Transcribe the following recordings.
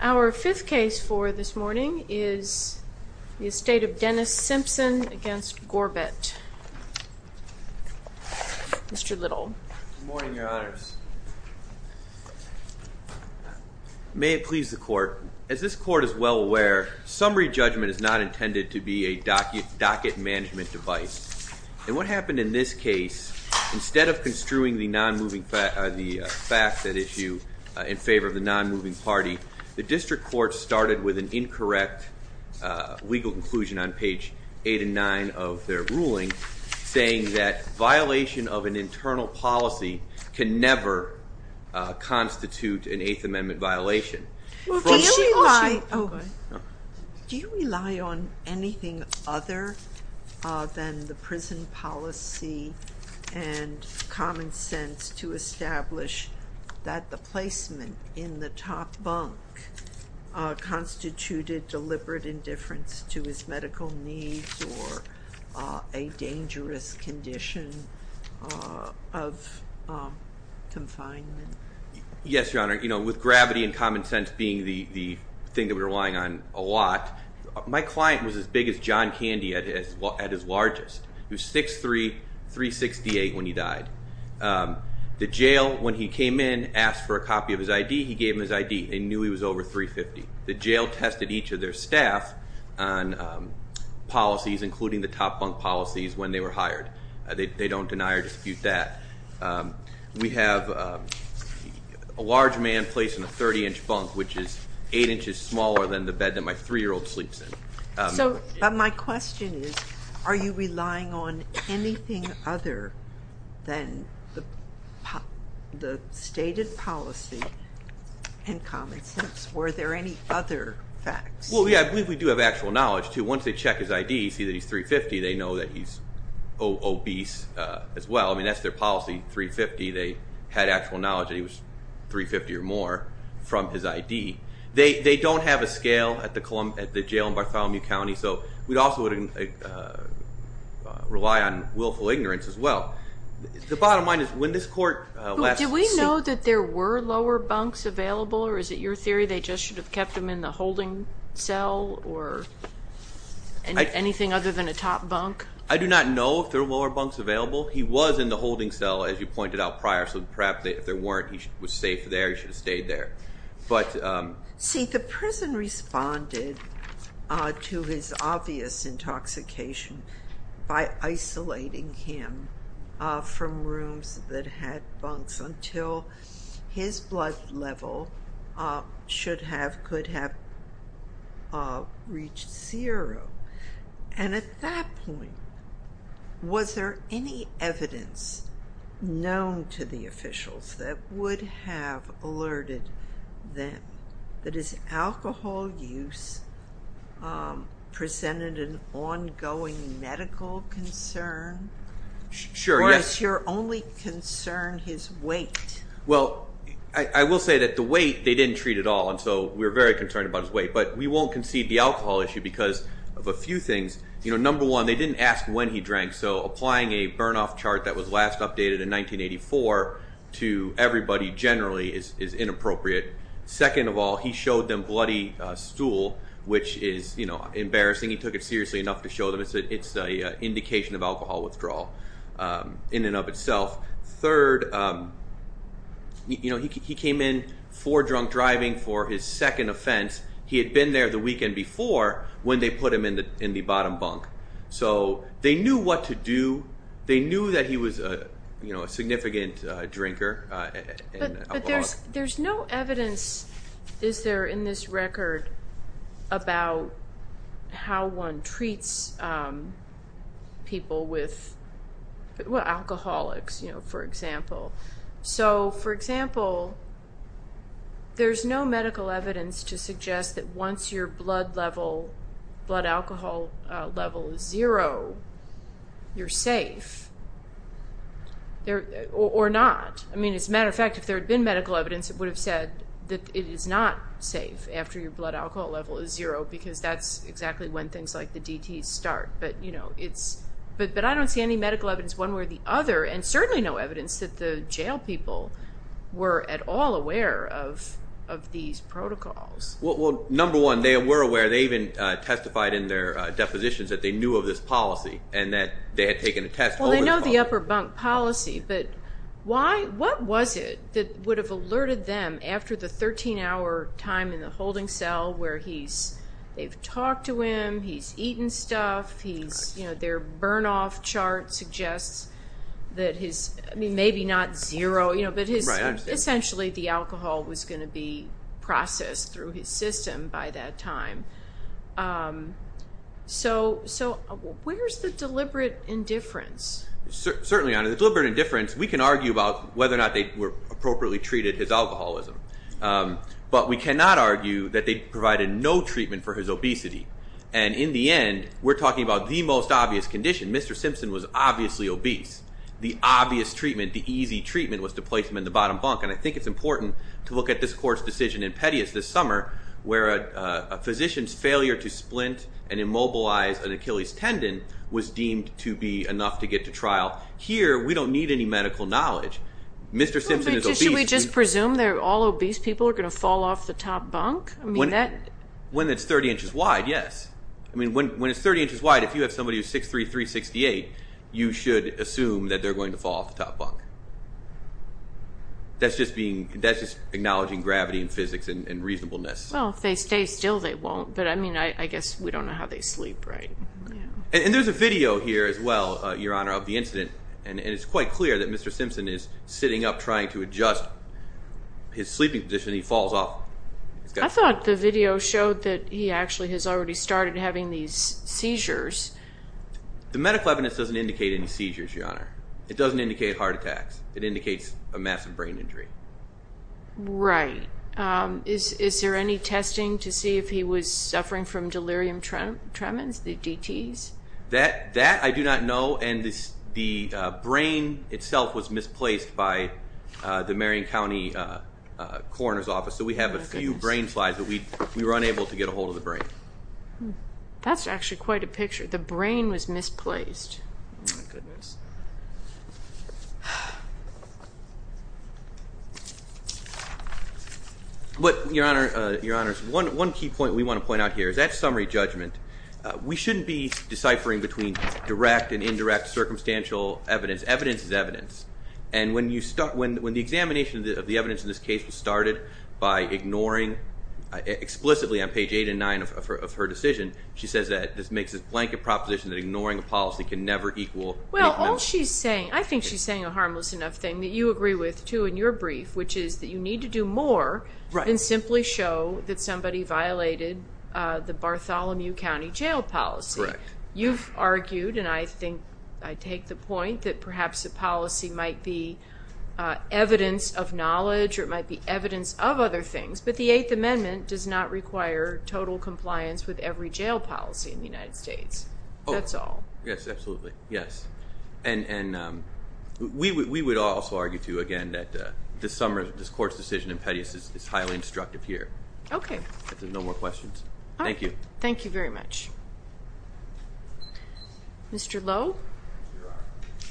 Our fifth case for this morning is the estate of Dennis Simpson against Gorbett. Mr. Little. May it please the court. As this court is well aware, summary judgment is not intended to be a docket management device. And what happened in this case, instead of construing the non-moving, the fact that issue in favor of the non-moving party, the district court started with an incorrect legal conclusion on page 8 and 9 of their ruling saying that violation of an internal policy can never constitute an Eighth Amendment violation. Do you rely on anything other than the prison policy and common sense to establish that the placement in the top bunk constituted deliberate indifference to his medical needs or a dangerous condition of confinement? Yes, Your Honor. You know, with gravity and common sense being the thing that we're relying on a lot, my client was as big as John Candy at his largest. He was 6'3", 368 when he died. The jail, when he came in, asked for a copy of his ID, he gave him his ID. They knew he was over 350. The jail tested each of their staff on policies, including the top bunk policies when they were hired. They don't deny or dispute that. We have a large man placed in a 30-inch bunk, which is eight inches smaller than the bed that my three-year-old sleeps in. So my question is, are you relying on anything other than the stated policy and common sense? Were there any other facts? Well, yeah, I believe we do have actual knowledge, too. Once they check his ID, see that he's 350, they know that he's obese as well. I mean, that's their policy, 350. They had actual knowledge that he was 350 or more from his ID. They don't have a scale at the jail in Bartholomew County, so we'd also rely on willful ignorance as well. The bottom line is when this court... Do we know that there were lower bunks available, or is it your theory they just should have kept them in the holding cell, or anything other than a top bunk? I do not know if there were lower bunks available. He was in the holding cell, as you pointed out prior, so perhaps if there weren't, he was safe there, he should have stayed there. See, the prison responded to his obvious intoxication by isolating him from rooms that had bunks until his blood level should have, could have reached zero, and at that point, was there any evidence known to the officials that would have alerted them that his alcohol use presented an ongoing medical concern? Sure, yes. Or is your only concern his weight? Well, I will say that the weight, they didn't treat at all, and so we're very concerned about his weight, but we won't concede the alcohol issue because of a few things. You know, number one, they didn't ask when he drank, so applying a burn-off chart that was last updated in 1984 to everybody generally is inappropriate. Second of all, he showed them bloody stool, which is, you know, embarrassing. He took it seriously enough to show them it's an indication of alcohol withdrawal in and of itself. Third, you know, he came in for drunk driving for his second offense. He had been there the weekend before when they put him in the bottom bunk, so they knew what to do. They knew that he was a, you know, a significant drinker. But there's no evidence, is there, in this record about how one treats people with alcoholics, you know, for example. So, for example, there's no medical evidence to suggest that once your blood level, blood alcohol level is zero, you're safe. Or not. I mean, as a matter of fact, if there had been medical evidence, it would have said that it is not safe after your blood alcohol level is zero because that's exactly when things like the DTs start. But, you know, it's, but I don't see any medical evidence one way or the other, and certainly no evidence that the jail people were at all aware of these protocols. Well, number one, they were aware. They even testified in their depositions that they knew of this policy and that they had taken a test. Well, they know the upper bunk policy, but why, what was it that would have alerted them after the 13-hour time in the holding cell where he's, they've talked to him, he's eaten stuff, he's, you know, their burn-off chart suggests that his, I mean, maybe not zero, you know, but his, essentially the alcohol was going to be So where's the deliberate indifference? Certainly, the deliberate indifference, we can argue about whether or not they were appropriately treated his alcoholism. But we cannot argue that they provided no treatment for his obesity. And in the end, we're talking about the most obvious condition. Mr. Simpson was obviously obese. The obvious treatment, the easy treatment was to place him in the bottom bunk. And I think it's important to look at this court's decision in Pettius this summer where a physician's failure to splint and Achilles tendon was deemed to be enough to get to trial. Here, we don't need any medical knowledge. Mr. Simpson is obese. Should we just presume that all obese people are going to fall off the top bunk? When it's 30 inches wide, yes. I mean, when it's 30 inches wide, if you have somebody who's 6'3", 368, you should assume that they're going to fall off the top bunk. That's just being, that's just acknowledging gravity and physics and reasonableness. Well, if they stay still, they won't. But I mean, I guess we don't know how they sleep, right? And there's a video here as well, Your Honor, of the incident. And it's quite clear that Mr. Simpson is sitting up trying to adjust his sleeping position and he falls off. I thought the video showed that he actually has already started having these seizures. The medical evidence doesn't indicate any seizures, Your Honor. It doesn't indicate heart attacks. It indicates a massive brain injury. Right. Is there any testing to see if was suffering from delirium tremens, the DTs? That I do not know. And the brain itself was misplaced by the Marion County Coroner's Office. So we have a few brain slides, but we were unable to get a hold of the brain. That's actually quite a picture. The brain was misplaced. Oh, my goodness. But, Your Honor, one key point we want to point out here is that summary judgment. We shouldn't be deciphering between direct and indirect circumstantial evidence. Evidence is evidence. And when the examination of the evidence in this case was started by ignoring, explicitly on page eight and nine of her decision, she says that this makes a blanket proposition that ignoring a policy can never equal... Well, all she's saying, I think she's saying a harmless enough thing that you agree with, too, in your brief, which is that you need to do more than simply show that somebody violated the Bartholomew County jail policy. Correct. You've argued, and I think I take the point, that perhaps a policy might be evidence of knowledge or it might be evidence of other things, but the Eighth Amendment does not require total compliance with every jail policy in the United States. That's all. Yes, absolutely. Yes. And we would also argue, too, again, that this Court's decision in Pettius is highly instructive here. Okay. If there's no more questions. Thank you. Thank you very much. Mr. Lowe? Here I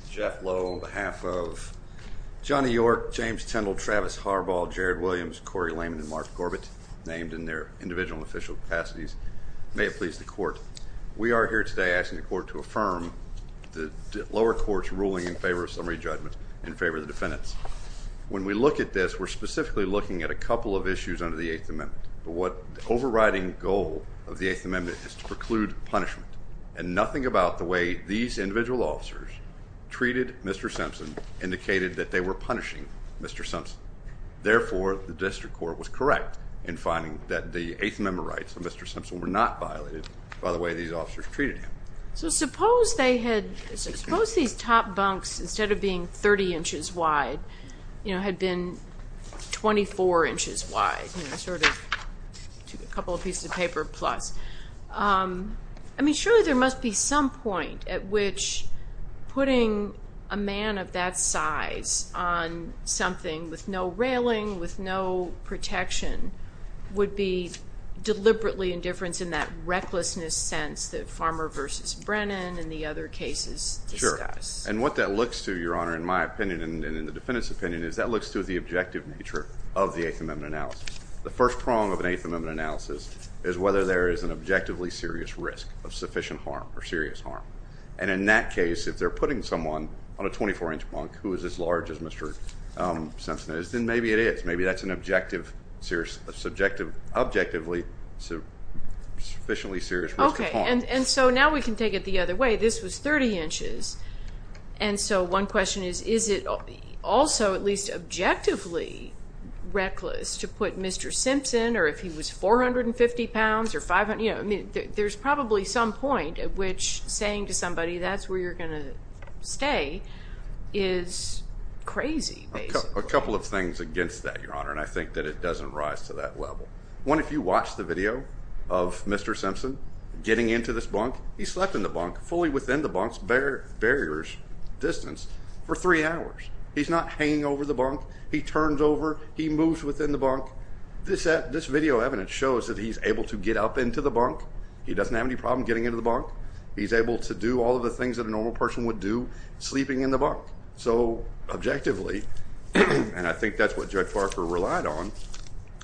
am. Jeff Lowe on behalf of Johnny York, James Tindall, Travis Harbaugh, Jared Williams, Corey Lehman, and Mark Corbett, named in their individual and official capacities. May it please the Court, we are here today asking the Court to affirm the lower court's ruling in favor of summary judgment in favor of the defendants. When we look at this, we're specifically looking at a couple of issues under the Eighth Amendment. The overriding goal of the Eighth Amendment is to preclude punishment, and nothing about the way these individual officers treated Mr. Simpson indicated that they were punishing Mr. Simpson. Therefore, the district court was correct in finding that the Eighth Amendment rights of Mr. Simpson were not violated by the way these officers treated him. So suppose these top bunks, instead of being 30 inches wide, had been 24 inches wide, sort of a couple of pieces of paper plus. I mean, surely there must be some point at which putting a man of that size on something with no railing, with no protection, would be deliberately indifference in that recklessness sense that Farmer versus Brennan and the other cases discuss. Sure. And what that looks to, Your Honor, in my opinion and in the defendant's opinion, is that looks to the objective nature of the Eighth Amendment analysis. The first prong of an Eighth Amendment analysis is whether there is an objectively serious risk of sufficient harm or serious harm. And in that case, if they're putting someone on a 24-inch bunk who is as large as Mr. Simpson is, then maybe it is. Maybe that's an objectively sufficiently serious risk of harm. Okay. And so now we can take it the other way. This was 30 inches. And so one question is, is it also at least objectively reckless to put Mr. Simpson, or if he was 450 pounds or 500, you know, I mean, there's probably some point at which saying to somebody, that's where you're going to stay, is crazy. A couple of things against that, Your Honor, and I think that it doesn't rise to that level. One, if you watch the video of Mr. Simpson getting into this bunk, he slept in the bunk, fully within the bunk's barriers distance for three hours. He's not hanging over the bunk. He turns over. He moves within the bunk. This video evidence shows that he's able to get up into the bunk. He doesn't have any problem getting into the bunk. He's able to do all of the things a normal person would do sleeping in the bunk. So objectively, and I think that's what Judge Parker relied on,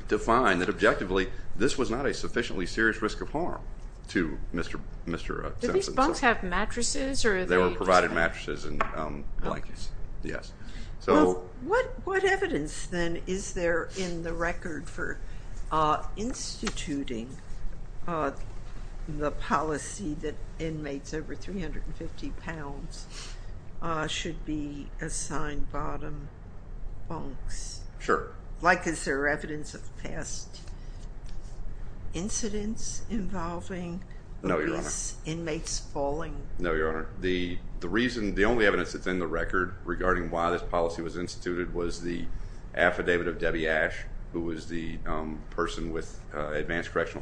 to find that objectively this was not a sufficiently serious risk of harm to Mr. Simpson. Do these bunks have mattresses? They were provided mattresses and blankets, yes. Well, what evidence then is there in the record for instituting the policy that inmates over 350 pounds should be assigned bottom bunks? Sure. Like, is there evidence of past incidents involving these inmates falling? No, Your Honor. The reason, the only evidence that's in the record regarding why this policy was instituted was the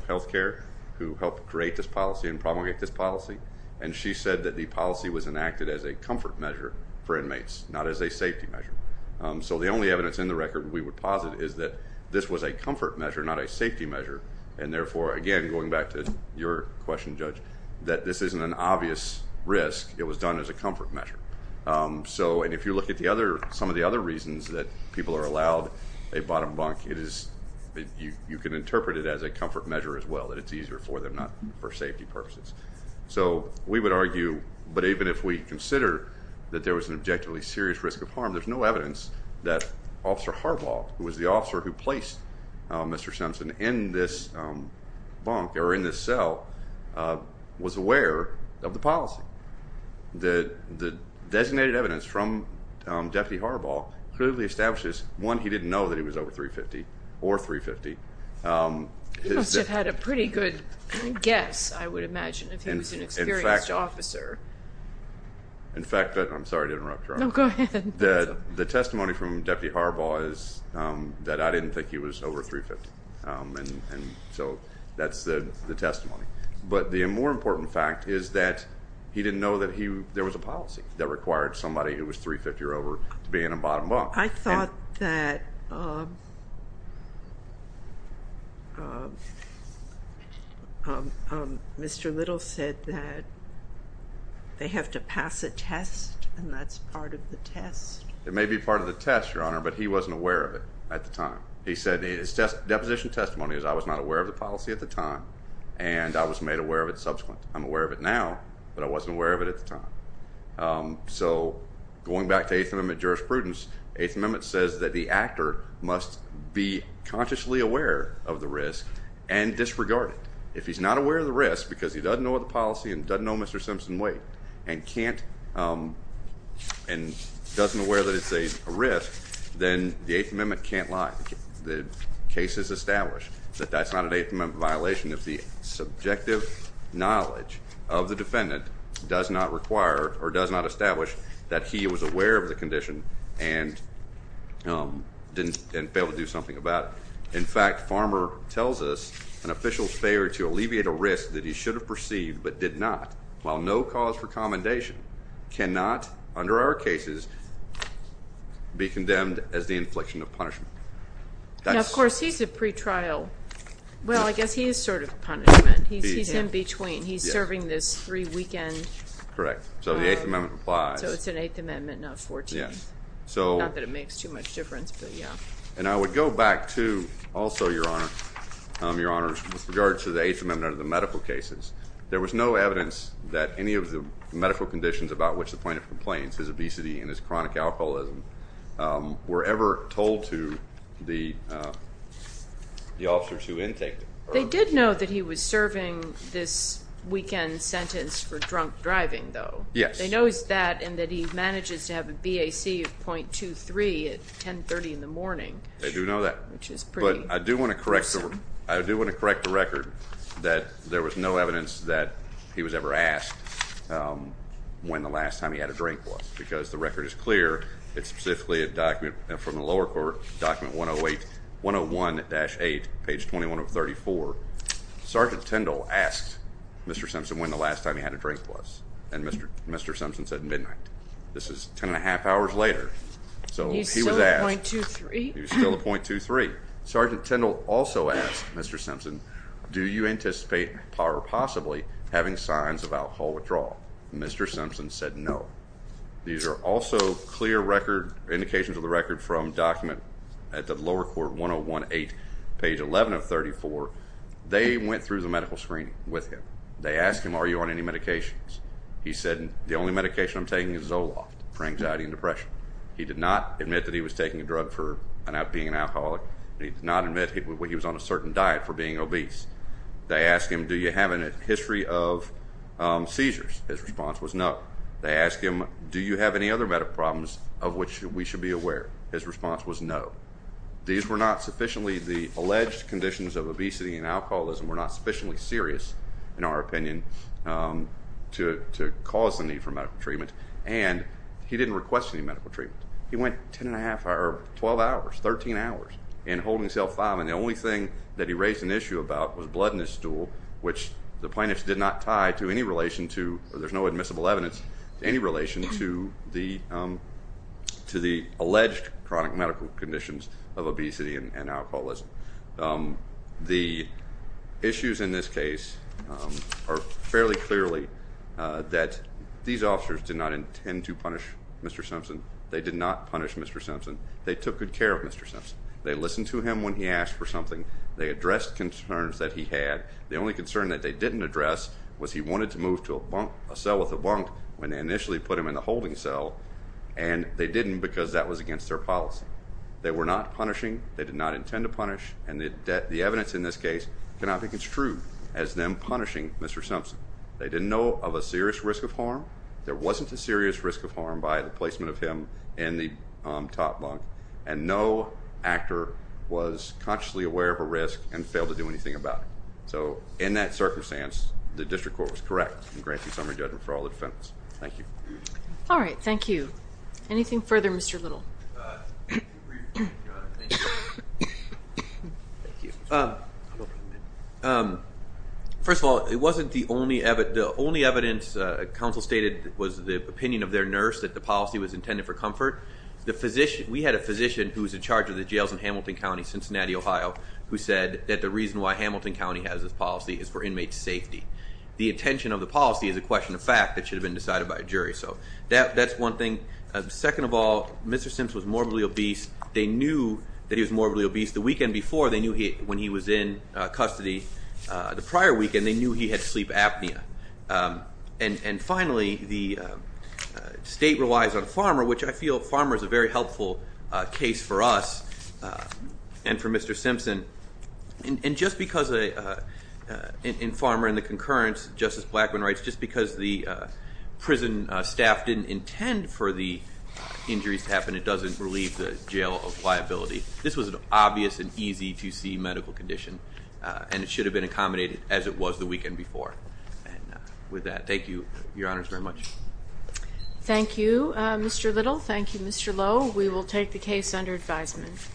health care who helped create this policy and promulgate this policy, and she said that the policy was enacted as a comfort measure for inmates, not as a safety measure. So the only evidence in the record we would posit is that this was a comfort measure, not a safety measure, and therefore, again, going back to your question, Judge, that this isn't an obvious risk. It was done as a comfort measure. So, and if you look at the other, some of the other reasons that people are a comfort measure as well, that it's easier for them, not for safety purposes. So we would argue, but even if we consider that there was an objectively serious risk of harm, there's no evidence that Officer Harbaugh, who was the officer who placed Mr. Simpson in this bunk or in this cell, was aware of the policy. The designated evidence from Deputy Harbaugh clearly establishes, one, he didn't know that he was over 350 or 350. He must have had a pretty good guess, I would imagine, if he was an experienced officer. In fact, I'm sorry to interrupt, Your Honor. No, go ahead. The testimony from Deputy Harbaugh is that I didn't think he was over 350, and so that's the testimony, but the more important fact is that he didn't know that there was a policy that required somebody who was 350 or over to be in a bottom bunk. I thought that Mr. Little said that they have to pass a test, and that's part of the test. It may be part of the test, Your Honor, but he wasn't aware of it at the time. He said his deposition testimony is I was not aware of the policy at the time, and I was made aware of it subsequent. I'm aware of it now, but I wasn't aware of it at the time. So going back to Eighth Amendment jurisprudence, Eighth Amendment says that the actor must be consciously aware of the risk and disregard it. If he's not aware of the risk because he doesn't know the policy and doesn't know Mr. Simpson Waite and can't and doesn't aware that it's a risk, then the Eighth Amendment can't lie. The case is established that that's not an Eighth Amendment violation if the subjective knowledge of the defendant does not require or does not establish that he was aware of the condition and didn't fail to do something about it. In fact, Farmer tells us an official's failure to alleviate a risk that he should have perceived but did not, while no cause for commendation cannot, under our cases, be condemned as the infliction of punishment. Of course, he's a pretrial. Well, I guess he is sort of a punishment. He's in between. He's serving this three-weekend. Correct. So the Eighth Amendment applies. So it's an Eighth Amendment, not Fourteenth. Yes. Not that it makes too much difference, but yeah. And I would go back to, also, Your Honor, Your Honors, with regard to the Eighth Amendment under the medical cases. There was no evidence that any of the medical conditions about which the plaintiff complains, his obesity and his They did know that he was serving this weekend sentence for drunk driving, though. Yes. They know that and that he manages to have a BAC of 0.23 at 10.30 in the morning. They do know that. Which is pretty. But I do want to correct the record that there was no evidence that he was ever asked when the last time he had a drink was, because the record is clear. It's specifically a document from the lower court, document 101-8, page 21 of 34. Sergeant Tindall asked Mr. Simpson when the last time he had a drink was, and Mr. Simpson said midnight. This is 10 and a half hours later. So he was asked. He's still at 0.23. He's still at 0.23. Sergeant Tindall also asked Mr. Simpson, do you anticipate or possibly having signs of alcohol withdrawal? Mr. Simpson said no. These are also clear indications of the record from document at the lower court, 101-8, page 11 of 34. They went through the medical screening with him. They asked him, are you on any medications? He said the only medication I'm taking is Zoloft for anxiety and depression. He did not admit that he was taking a drug for being an alcoholic. He did not admit he was on a certain diet for being obese. They asked him, do you have a history of seizures? His response was no. They asked him, do you have any other medical problems of which we should be aware? His response was no. These were not sufficiently, the alleged conditions of obesity and alcoholism were not sufficiently serious, in our opinion, to cause the need for medical treatment. And he didn't request any medical treatment. He went 10 and a half, or 12 hours, 13 hours in holding cell five, and the only thing that he raised an issue about was blood in his stool, which the plaintiffs did not tie to any relation to, or there's no admissible evidence, any relation to the alleged chronic medical conditions of obesity and alcoholism. The issues in this case are fairly clearly that these officers did not intend to punish Mr. Simpson. They did not punish Mr. Simpson. They took good care of Mr. Simpson. They listened to him when he asked for something. They addressed concerns that he had. The only concern that they didn't address was he wanted to move to a cell with a bunk when they initially put him in the holding cell, and they didn't because that was against their policy. They were not punishing. They did not intend to punish, and the evidence in this case cannot be construed as them punishing Mr. Simpson. They didn't know of a serious risk of harm. There wasn't a serious risk of harm by the placement of him in the top bunk, and no actor was consciously aware of a risk and failed to do anything about it. So in that circumstance, the district court was correct in granting summary judgment for all the defendants. Thank you. All right. Thank you. Anything further, Mr. Little? First of all, it wasn't the only evidence. The only evidence counsel stated was the opinion of their nurse that the policy was intended for comfort. We had a physician who was in charge of the jails in Hamilton County, Cincinnati, Ohio, who said that the reason why Hamilton County has this policy is for inmate safety. The intention of the policy is a question of fact that should have been decided by a jury. So that's one thing. Second of all, Mr. Simpson was morbidly obese. They knew that he was morbidly obese. The weekend before, they knew when he was in custody. The prior weekend, they knew he had sleep apnea. And finally, the state relies on a farmer, which I feel farmer is a very helpful case for us and for Mr. Simpson. And just because a farmer in the concurrence, Justice Blackmun writes, just because the prison staff didn't intend for the injuries to happen, it doesn't relieve the jail of liability. This was an obvious and easy to see medical condition, and it should have been accommodated as it was the weekend before. And with that, thank you, Your Honors, very much. Thank you, Mr. Little. Thank you, Mr. Lowe. We will take the case under advisement.